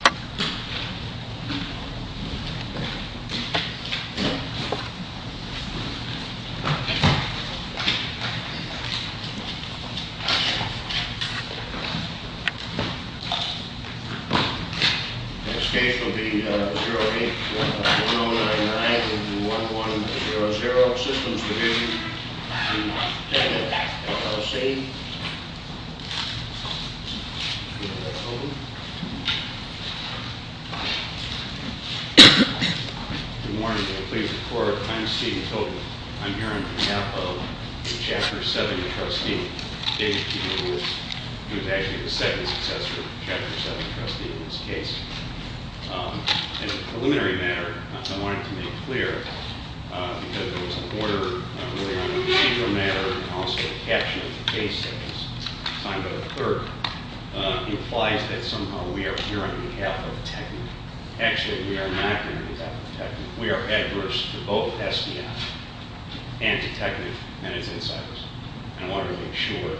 Next case will be 08-1099-1100, Systems Division v. TekNek, LLC. Good morning. I'm Steven Toten. I'm here on behalf of the Chapter 7 trustee, David P. Lewis, who is actually the second successor to the Chapter 7 trustee in this case. As a preliminary matter, I wanted to make clear, because there was an order early on in the procedure matter, and also a caption of the case that was signed by the clerk, implies that somehow we are here on behalf of TekNek. Actually, we are not here on behalf of TekNek. We are adverse to both SBI and to TekNek and its insiders. I wanted to make sure,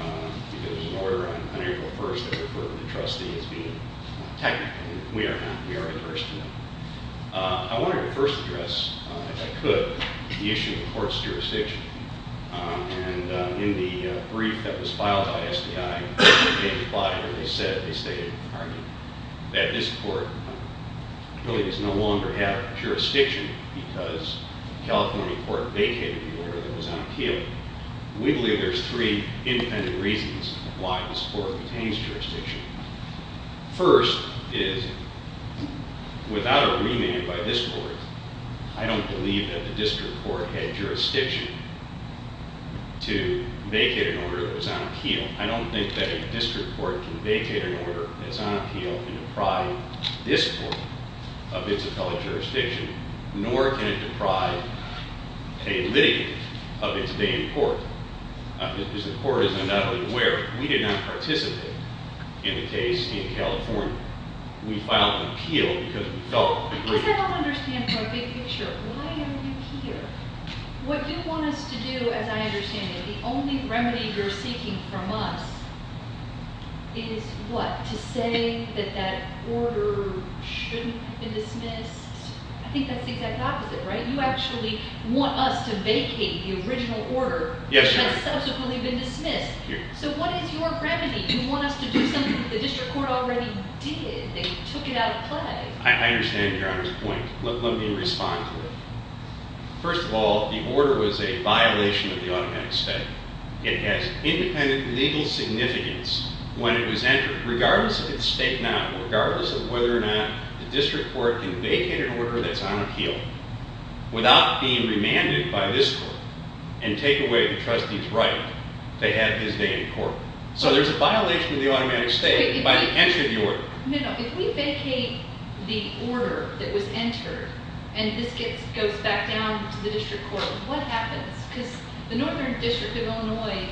because there was an order on April 1st that referred the trustee as being TekNek. We are not. We are adverse to them. I wanted to first address, if I could, the issue of the court's jurisdiction. In the brief that was filed by SBI, they said that this court really does no longer have jurisdiction because the California court vacated the order that was on appeal. We believe there's three independent reasons why this court retains jurisdiction. First is, without a remand by this court, I don't believe that the district court had jurisdiction to vacate an order that was on appeal. I don't think that a district court can vacate an order that's on appeal and deprive this court of its appellate jurisdiction, nor can it deprive a litigant of its day in court. As the court is undoubtedly aware, we did not participate in the case in California. We filed an appeal because we felt- Because I don't understand from a big picture, why are you here? What you want us to do, as I understand it, the only remedy you're seeking from us is what? To say that that order shouldn't have been dismissed? I think that's the exact opposite, right? You actually want us to vacate the original order. Yes, Your Honor. That's subsequently been dismissed. So what is your remedy? You want us to do something that the district court already did that took it out of play. I understand Your Honor's point. Let me respond to it. First of all, the order was a violation of the automatic statute. It has independent legal significance when it was entered, regardless of its statement, regardless of whether or not the district court can vacate an order that's on appeal without being remanded by this court and take away the trustee's right to have his day in court. So there's a violation of the automatic state by the entry of the order. No, no. If we vacate the order that was entered and this goes back down to the district court, what happens? Because the Northern District of Illinois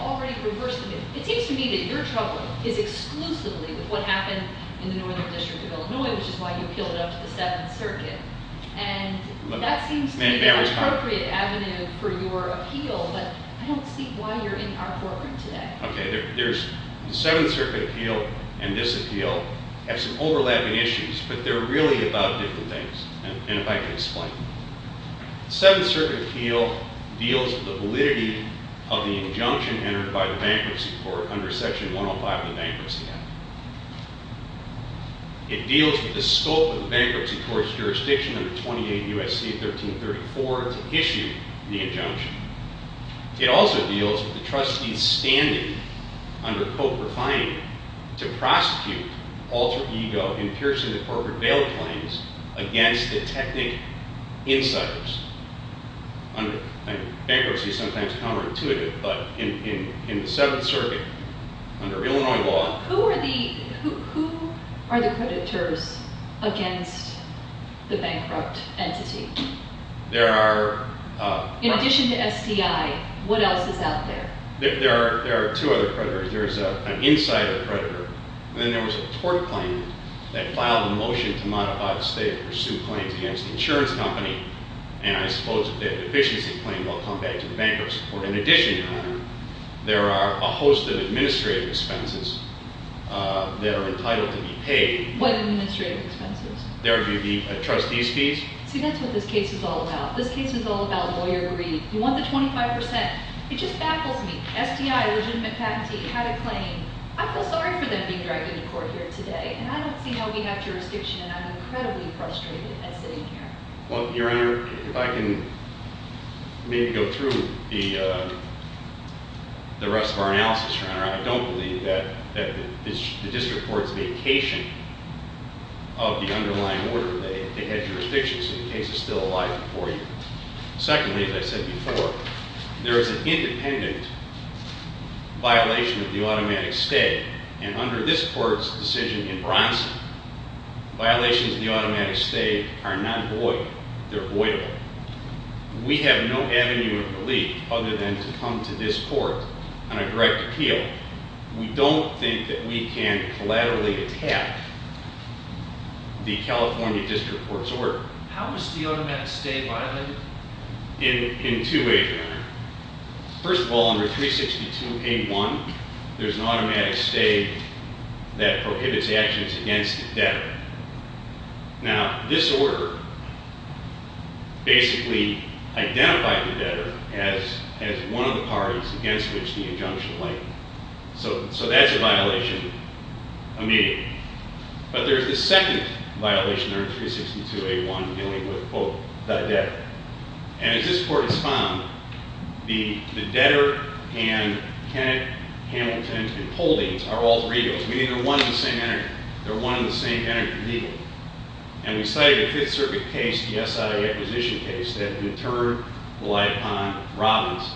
already reversed the move. It seems to me that your trouble is exclusively with what happened in the Northern District of Illinois, which is why you appealed it up to the Seventh Circuit. And that seems to be the appropriate avenue for your appeal, but I don't see why you're in our courtroom today. Okay. The Seventh Circuit appeal and this appeal have some overlapping issues, but they're really about different things. And if I can explain. The Seventh Circuit appeal deals with the validity of the injunction entered by the bankruptcy court under Section 105 of the Bankruptcy Act. It deals with the scope of the bankruptcy court's jurisdiction under 28 U.S.C. 1334 to issue the injunction. It also deals with the trustee's standing under Cope Refining to prosecute alter ego in piercing the corporate bail claims against the technic insiders. Bankruptcy is sometimes counterintuitive, but in the Seventh Circuit, under Illinois law Who are the creditors against the bankrupt entity? There are In addition to SDI, what else is out there? There are two other creditors. There's an insider creditor, and then there was a tort claim that filed a motion to modify the state to pursue claims against the insurance company, and I suppose that the efficiency claim will come back to the bankruptcy court. In addition, Your Honor, there are a host of administrative expenses that are entitled to be paid. What administrative expenses? There would be the trustee's fees. See, that's what this case is all about. This case is all about lawyer greed. You want the 25%. It just baffles me. SDI, legitimate patentee, had a claim. I feel sorry for them being dragged into court here today, and I don't see how we have jurisdiction, and I'm incredibly frustrated at sitting here. Well, Your Honor, if I can maybe go through the rest of our analysis, Your Honor. I don't believe that the district court's vacation of the underlying order, they had jurisdiction, so the case is still alive for you. Secondly, as I said before, there is an independent violation of the automatic stay, and under this court's decision in Bronson, violations of the automatic stay are not void. They're voidable. We have no avenue of relief other than to come to this court on a direct appeal. We don't think that we can collaterally attack the California district court's order. How is the automatic stay violated? In two ways, Your Honor. First of all, under 362A1, there's an automatic stay that prohibits actions against the debtor. Now, this order basically identified the debtor as one of the parties against which the injunction lay. So that's a violation immediately. But there's a second violation under 362A1 dealing with, quote, the debtor. And as this court has found, the debtor and Kenneth Hamilton and Holdings are alter egos, meaning they're one and the same entity. They're one and the same entity legally. And we cited a Fifth Circuit case, the SI acquisition case, that in turn relied upon Robbins,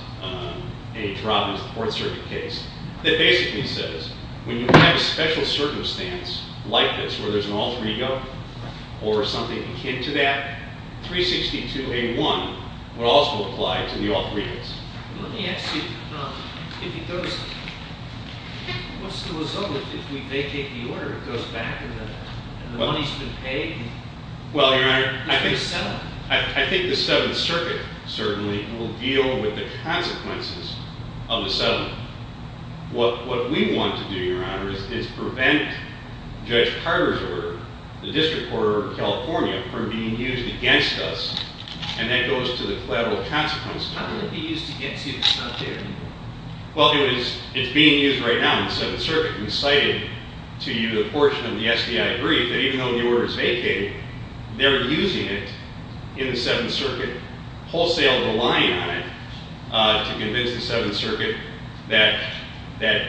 H. Robbins, the Fourth Circuit case, that basically says when you have a special circumstance like this where there's an alter ego or something akin to that, 362A1 would also apply to the alter egos. Let me ask you, what's the result if we vacate the order? It goes back and the money's been paid? Well, Your Honor, I think the Seventh Circuit certainly will deal with the consequences of the settlement. What we want to do, Your Honor, is prevent Judge Carter's order, the District Court of California, from being used against us. And that goes to the collateral consequences. How can it be used against you if it's not there anymore? Well, it's being used right now in the Seventh Circuit. We cited to you the portion of the SDI brief that even though the order is vacated, they're using it in the Seventh Circuit, wholesale relying on it, to convince the Seventh Circuit that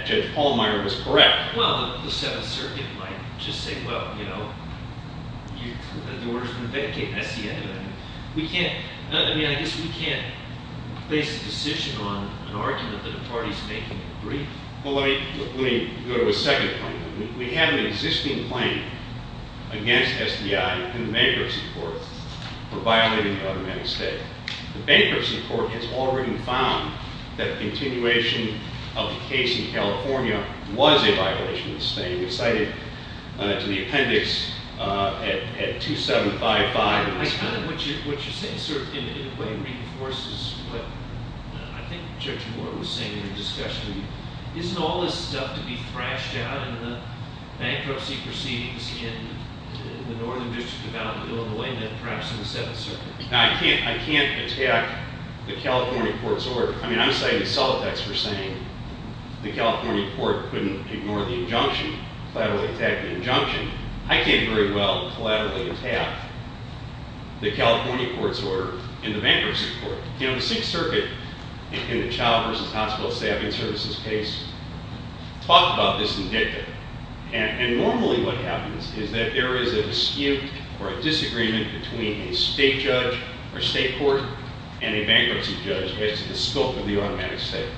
Judge Pallmeyer was correct. Well, the Seventh Circuit might just say, well, you know, the order's been vacated. That's the end of it. We can't, I mean, I guess we can't place a decision on an argument that the party's making a brief. Well, let me go to a second point. We have an existing claim against SDI in the Bankruptcy Court for violating the automatic state. The Bankruptcy Court has already found that continuation of the case in California was a violation of the state. We cited to the appendix at 2755. What you're saying, sir, in a way reinforces what I think Judge Moore was saying in the discussion. Isn't all this stuff to be thrashed out in the bankruptcy proceedings in the Northern District of Alabama, Illinois, and then perhaps in the Seventh Circuit? Now, I can't attack the California court's order. I mean, I'm citing Solitex for saying the California court couldn't ignore the injunction, collaterally attack the injunction. I can't very well collaterally attack the California court's order in the Bankruptcy Court. You know, the Sixth Circuit in the Child versus Hospital Staffing Services case talked about this indicative. And normally what happens is that there is a dispute or a disagreement between a state judge or state court and a bankruptcy judge based on the scope of the automatic state.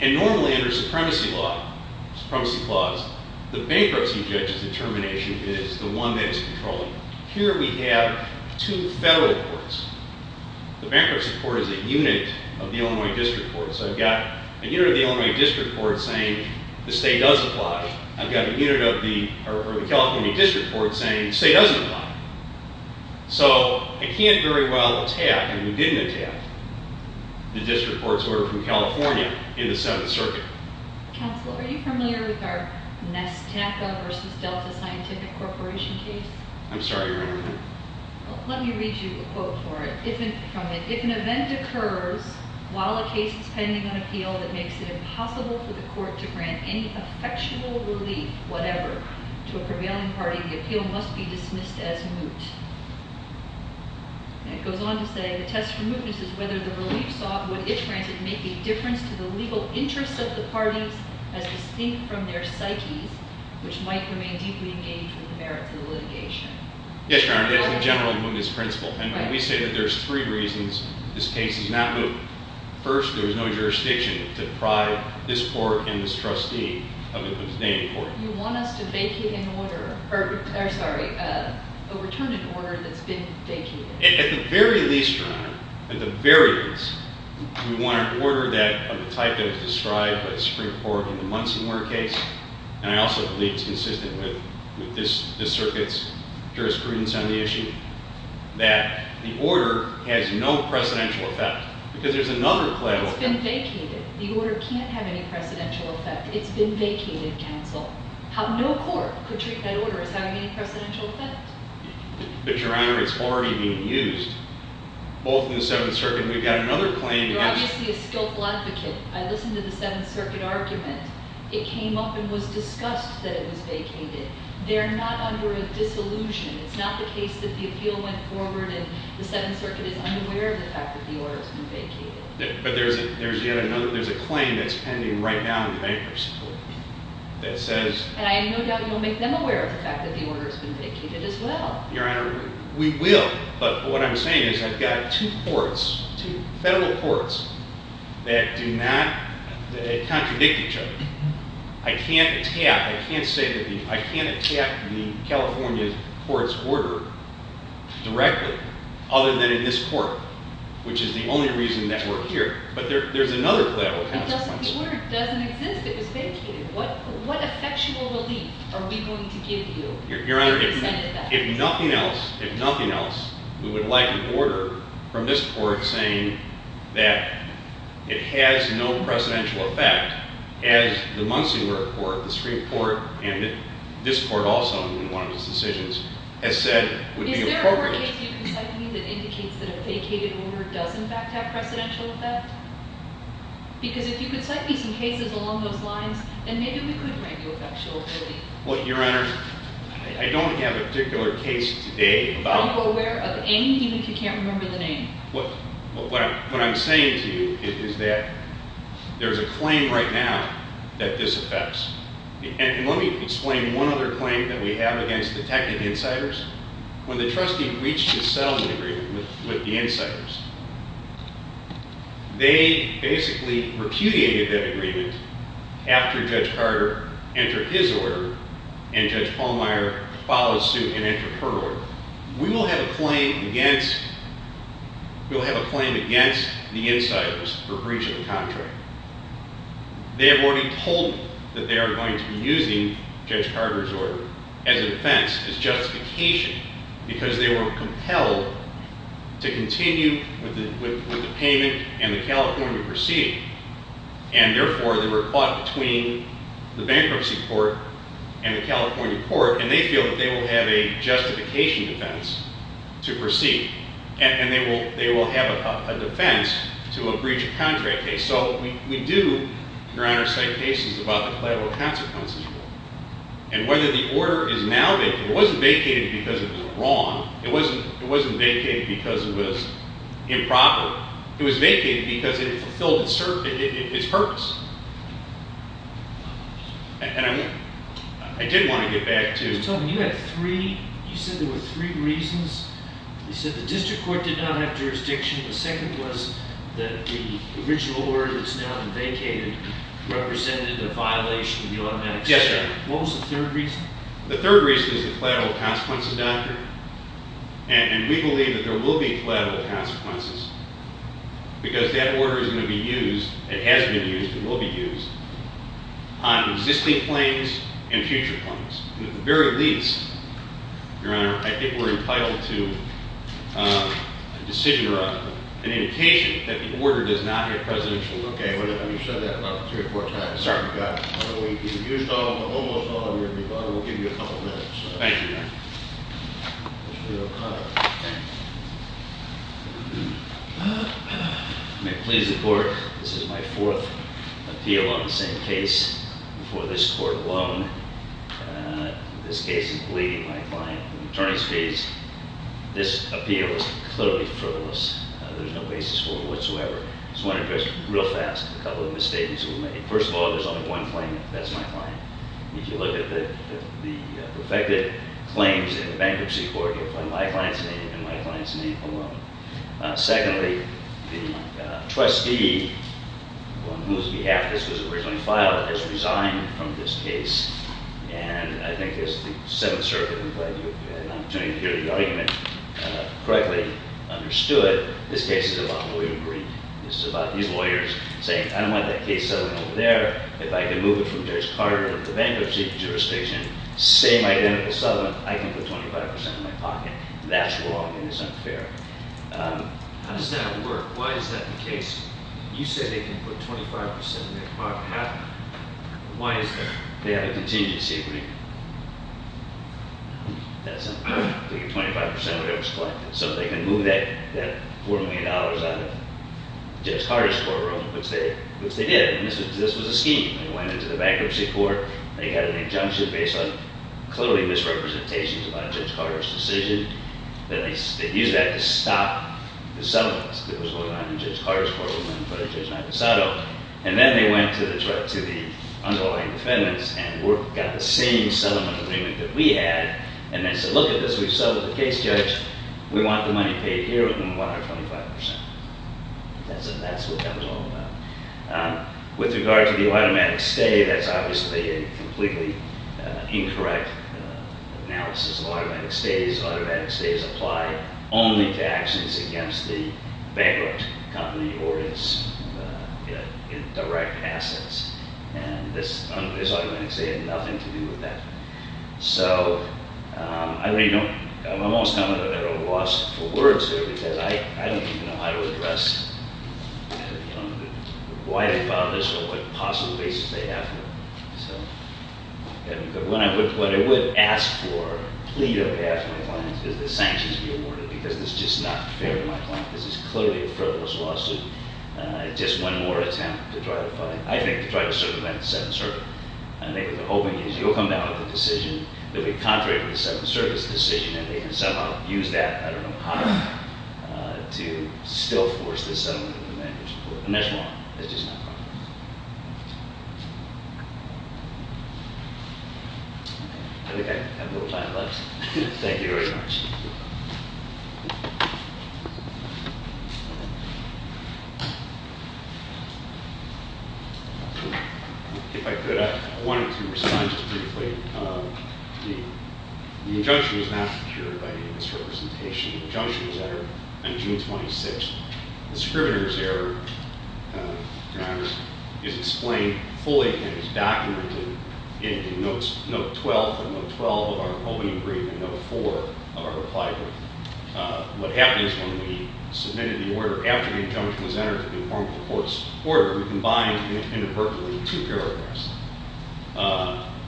And normally under supremacy law, supremacy clause, the bankruptcy judge's determination is the one that is controlling. Here we have two federal courts. The Bankruptcy Court is a unit of the Illinois District Court. So I've got a unit of the Illinois District Court saying the state does apply. I've got a unit of the California District Court saying the state doesn't apply. So I can't very well attack and didn't attack the District Court's order from California in the Seventh Circuit. Counselor, are you familiar with our Nestappa versus Delta Scientific Corporation case? I'm sorry, Your Honor. Let me read you a quote for it from it. If an event occurs while a case is pending on appeal that makes it impossible for the court to grant any effectual relief, whatever, to a prevailing party, the appeal must be dismissed as moot. And it goes on to say the test for mootness is whether the relief sought would, if granted, make a difference to the legal interests of the parties as distinct from their psyches, which might remain deeply engaged with the merits of the litigation. Yes, Your Honor. That's generally mootness principle. And when we say that there's three reasons this case is not moot, first, there is no jurisdiction to deprive this court and this trustee of its name in court. You want us to vacate an order, or sorry, a return to order that's been vacated. At the very least, Your Honor, at the very least, we want an order that of the type that was described by the Supreme Court in the Munsonware case. And I also believe it's consistent with this circuit's jurisprudence on the issue that the order has no precedential effect because there's another claim. It's been vacated. The order can't have any precedential effect. It's been vacated, counsel. No court could treat that order as having any precedential effect. But, Your Honor, it's already being used. Both in the Seventh Circuit, we've got another claim. You're obviously a skillful advocate. I listened to the Seventh Circuit argument. It came up and was discussed that it was vacated. They're not under a disillusion. It's not the case that the appeal went forward and the Seventh Circuit is unaware of the fact that the order has been vacated. But there's a claim that's pending right now in the bankers' court that says— And I have no doubt you'll make them aware of the fact that the order has been vacated as well. Your Honor, we will. But what I'm saying is I've got two courts, two federal courts, that do not— that contradict each other. I can't attack—I can't say that the— I can't attack the California court's order directly other than in this court, which is the only reason that we're here. But there's another collateral consequence. It doesn't work. It doesn't exist. It was vacated. What effectual relief are we going to give you? Your Honor, if nothing else, if nothing else, we would like an order from this court saying that it has no precedential effect as the Muncie court, the Supreme Court, and this court also, in one of its decisions, has said would be appropriate— Is there a court case you can cite to me that indicates that a vacated order does in fact have precedential effect? Because if you could cite me some cases along those lines, then maybe we could grant you effectual relief. Well, Your Honor, I don't have a particular case today about— Are you aware of any? Even if you can't remember the name. What I'm saying to you is that there's a claim right now that this affects. And let me explain one other claim that we have against the technical insiders. When the trustee reached a settlement agreement with the insiders, they basically repudiated that agreement after Judge Carter entered his order and Judge Pallmeyer followed suit and entered her order. We will have a claim against the insiders for breach of the contract. They have already told me that they are going to be using Judge Carter's order as a defense, as justification, because they were compelled to continue with the payment and the California proceeding. And therefore, they were caught between the bankruptcy court and the California court, and they feel that they will have a justification defense to proceed. And they will have a defense to a breach of contract case. So we do, Your Honor, cite cases about the collateral consequences rule. And whether the order is now vacated—it wasn't vacated because it was wrong. It wasn't vacated because it was improper. It was vacated because it fulfilled its purpose. And I did want to get back to— You said there were three reasons. You said the district court did not have jurisdiction. The second was that the original order that's now been vacated represented a violation of the automatic statute. Yes, sir. What was the third reason? The third reason is the collateral consequences doctrine. And we believe that there will be collateral consequences, because that order is going to be used—it has been used and will be used—on existing claims and future claims. And at the very least, Your Honor, I think we're entitled to a decision or an indication that the order does not have presidential— Okay, well, you've said that about three or four times. Sorry. You've used almost all of your rebuttal. We'll give you a couple minutes. Thank you, Your Honor. Mr. O'Connor. Thank you, Your Honor. May it please the Court, this is my fourth appeal on the same case before this Court alone. This case is pleading my client in attorney's fees. This appeal is clearly frivolous. There's no basis for it whatsoever. So I want to address real fast a couple of the misstatements that were made. First of all, there's only one claimant. That's my client. If you look at the perfected claims in the bankruptcy court, you'll find my client's name and my client's name alone. Secondly, the trustee on whose behalf this was originally filed has resigned from this case. And I think as the Seventh Circuit—I'm glad you had an opportunity to hear the argument correctly—understood, this case is about William Green. This is about these lawyers saying, I don't want that case settling over there. If I can move it from Judge Carter to the bankruptcy jurisdiction, same identical settlement, I can put 25 percent in my pocket. That's wrong, and it's unfair. How does that work? Why is that the case? You said they can put 25 percent in their pocket. Why is that? They have a contingency agreement. That's something. They get 25 percent of whatever's collected. So they can move that $4 million out of Judge Carter's courtroom, which they did. This was a scheme. They went into the bankruptcy court. They had an injunction based on clearly misrepresentations about Judge Carter's decision. They used that to stop the settlements that was going on in Judge Carter's courtroom and Judge Maldisado. And then they went to the underlying defendants and got the same settlement agreement that we had. And they said, look at this. We've settled the case, Judge. We want the money paid here, and we want our 25 percent. That's what that was all about. With regard to the automatic stay, that's obviously a completely incorrect analysis of automatic stays. Automatic stays apply only to actions against the bankrupt company or its indirect assets. And this automatic stay had nothing to do with that. So I'm almost coming at it at a loss for words here because I don't even know how to address why they filed this or what possible basis they have here. But what I would ask for, plead on behalf of my clients, is that sanctions be awarded because this is just not fair to my client. This is clearly a frivolous lawsuit. It's just one more attempt to try to fund it. And what they're hoping is you'll come down with a decision that would be contrary to the settlement service decision, and they can somehow use that. I don't know how to still force this settlement agreement. And that's one. It's just not fair. I think I have no time left. Thank you very much. Thank you. If I could, I wanted to respond just briefly. The injunction was not secured by the industry representation. The injunction was entered on June 26th. The scrivener's error, Your Honor, is explained fully and is documented in note 12 of our holding agreement, note 4 of our reply agreement. What happens when we submitted the order after the injunction was entered to conform to the court's order, we combined inadvertently two paragraphs,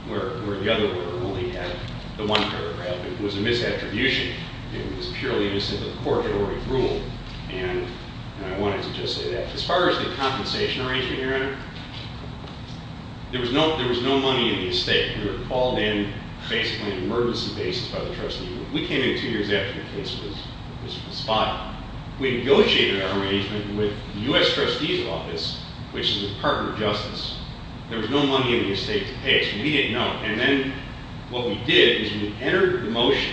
where the other order only had the one paragraph. It was a misattribution. It was purely innocent of the court that already ruled. And I wanted to just say that. As far as the compensation arrangement, Your Honor, there was no money in the estate. We were called in basically on an emergency basis by the trustee. We came in two years after the case was spotted. We negotiated our arrangement with the U.S. trustee's office, which is the Department of Justice. There was no money in the estate to pay, so we didn't know. And then what we did is we entered the motion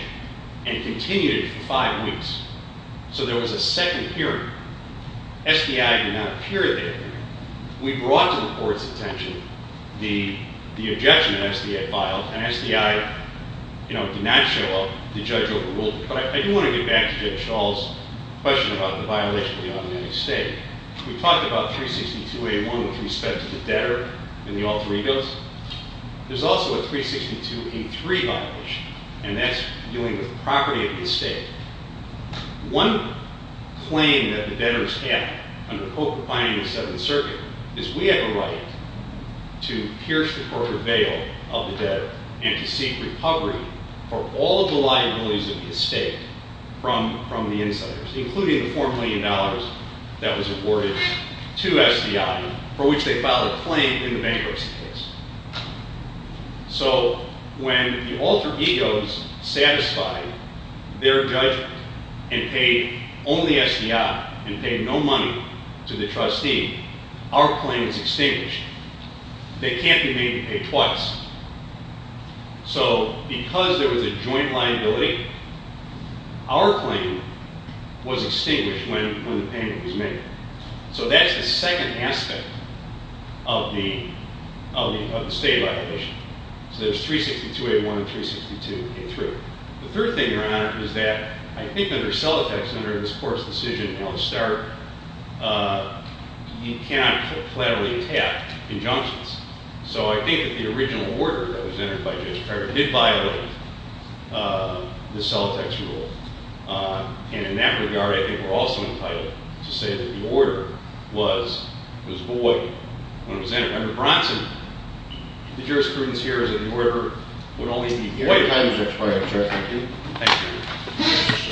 and continued it for five weeks. So there was a second hearing. SDI did not appear at that hearing. We brought to the court's attention the objection that SDI filed, and SDI, you know, did not show up. The judge overruled it. But I do want to get back to Judge Stahl's question about the violation of the automatic state. We talked about 362A1 with respect to the debtor and the alter egos. There's also a 362A3 violation, and that's dealing with the property of the estate. One claim that the debtors have under the Co-Compiling of the Seventh Circuit is we have a right to pierce the corporate veil of the debtor and to seek recovery for all of the liabilities of the estate from the insiders, including the $4 million that was awarded to SDI for which they filed a claim in the bankruptcy case. So when the alter egos satisfied their judgment and paid only SDI and paid no money to the trustee, our claim is extinguished. They can't be made to pay twice. So because there was a joint liability, our claim was extinguished when the payment was made. So that's the second aspect of the state violation. So there's 362A1 and 362A3. The third thing around it is that I think under Celotex, under this court's decision, you know, to start, you cannot collaterally tap injunctions. So I think that the original order that was entered by Judge Pratt did violate the Celotex rule. And in that regard, I think we're also entitled to say that the order was void when it was entered. Under Bronson, the jurisprudence here is that the order would only be given- Wait a minute, Judge Pratt. Thank you. Thank you.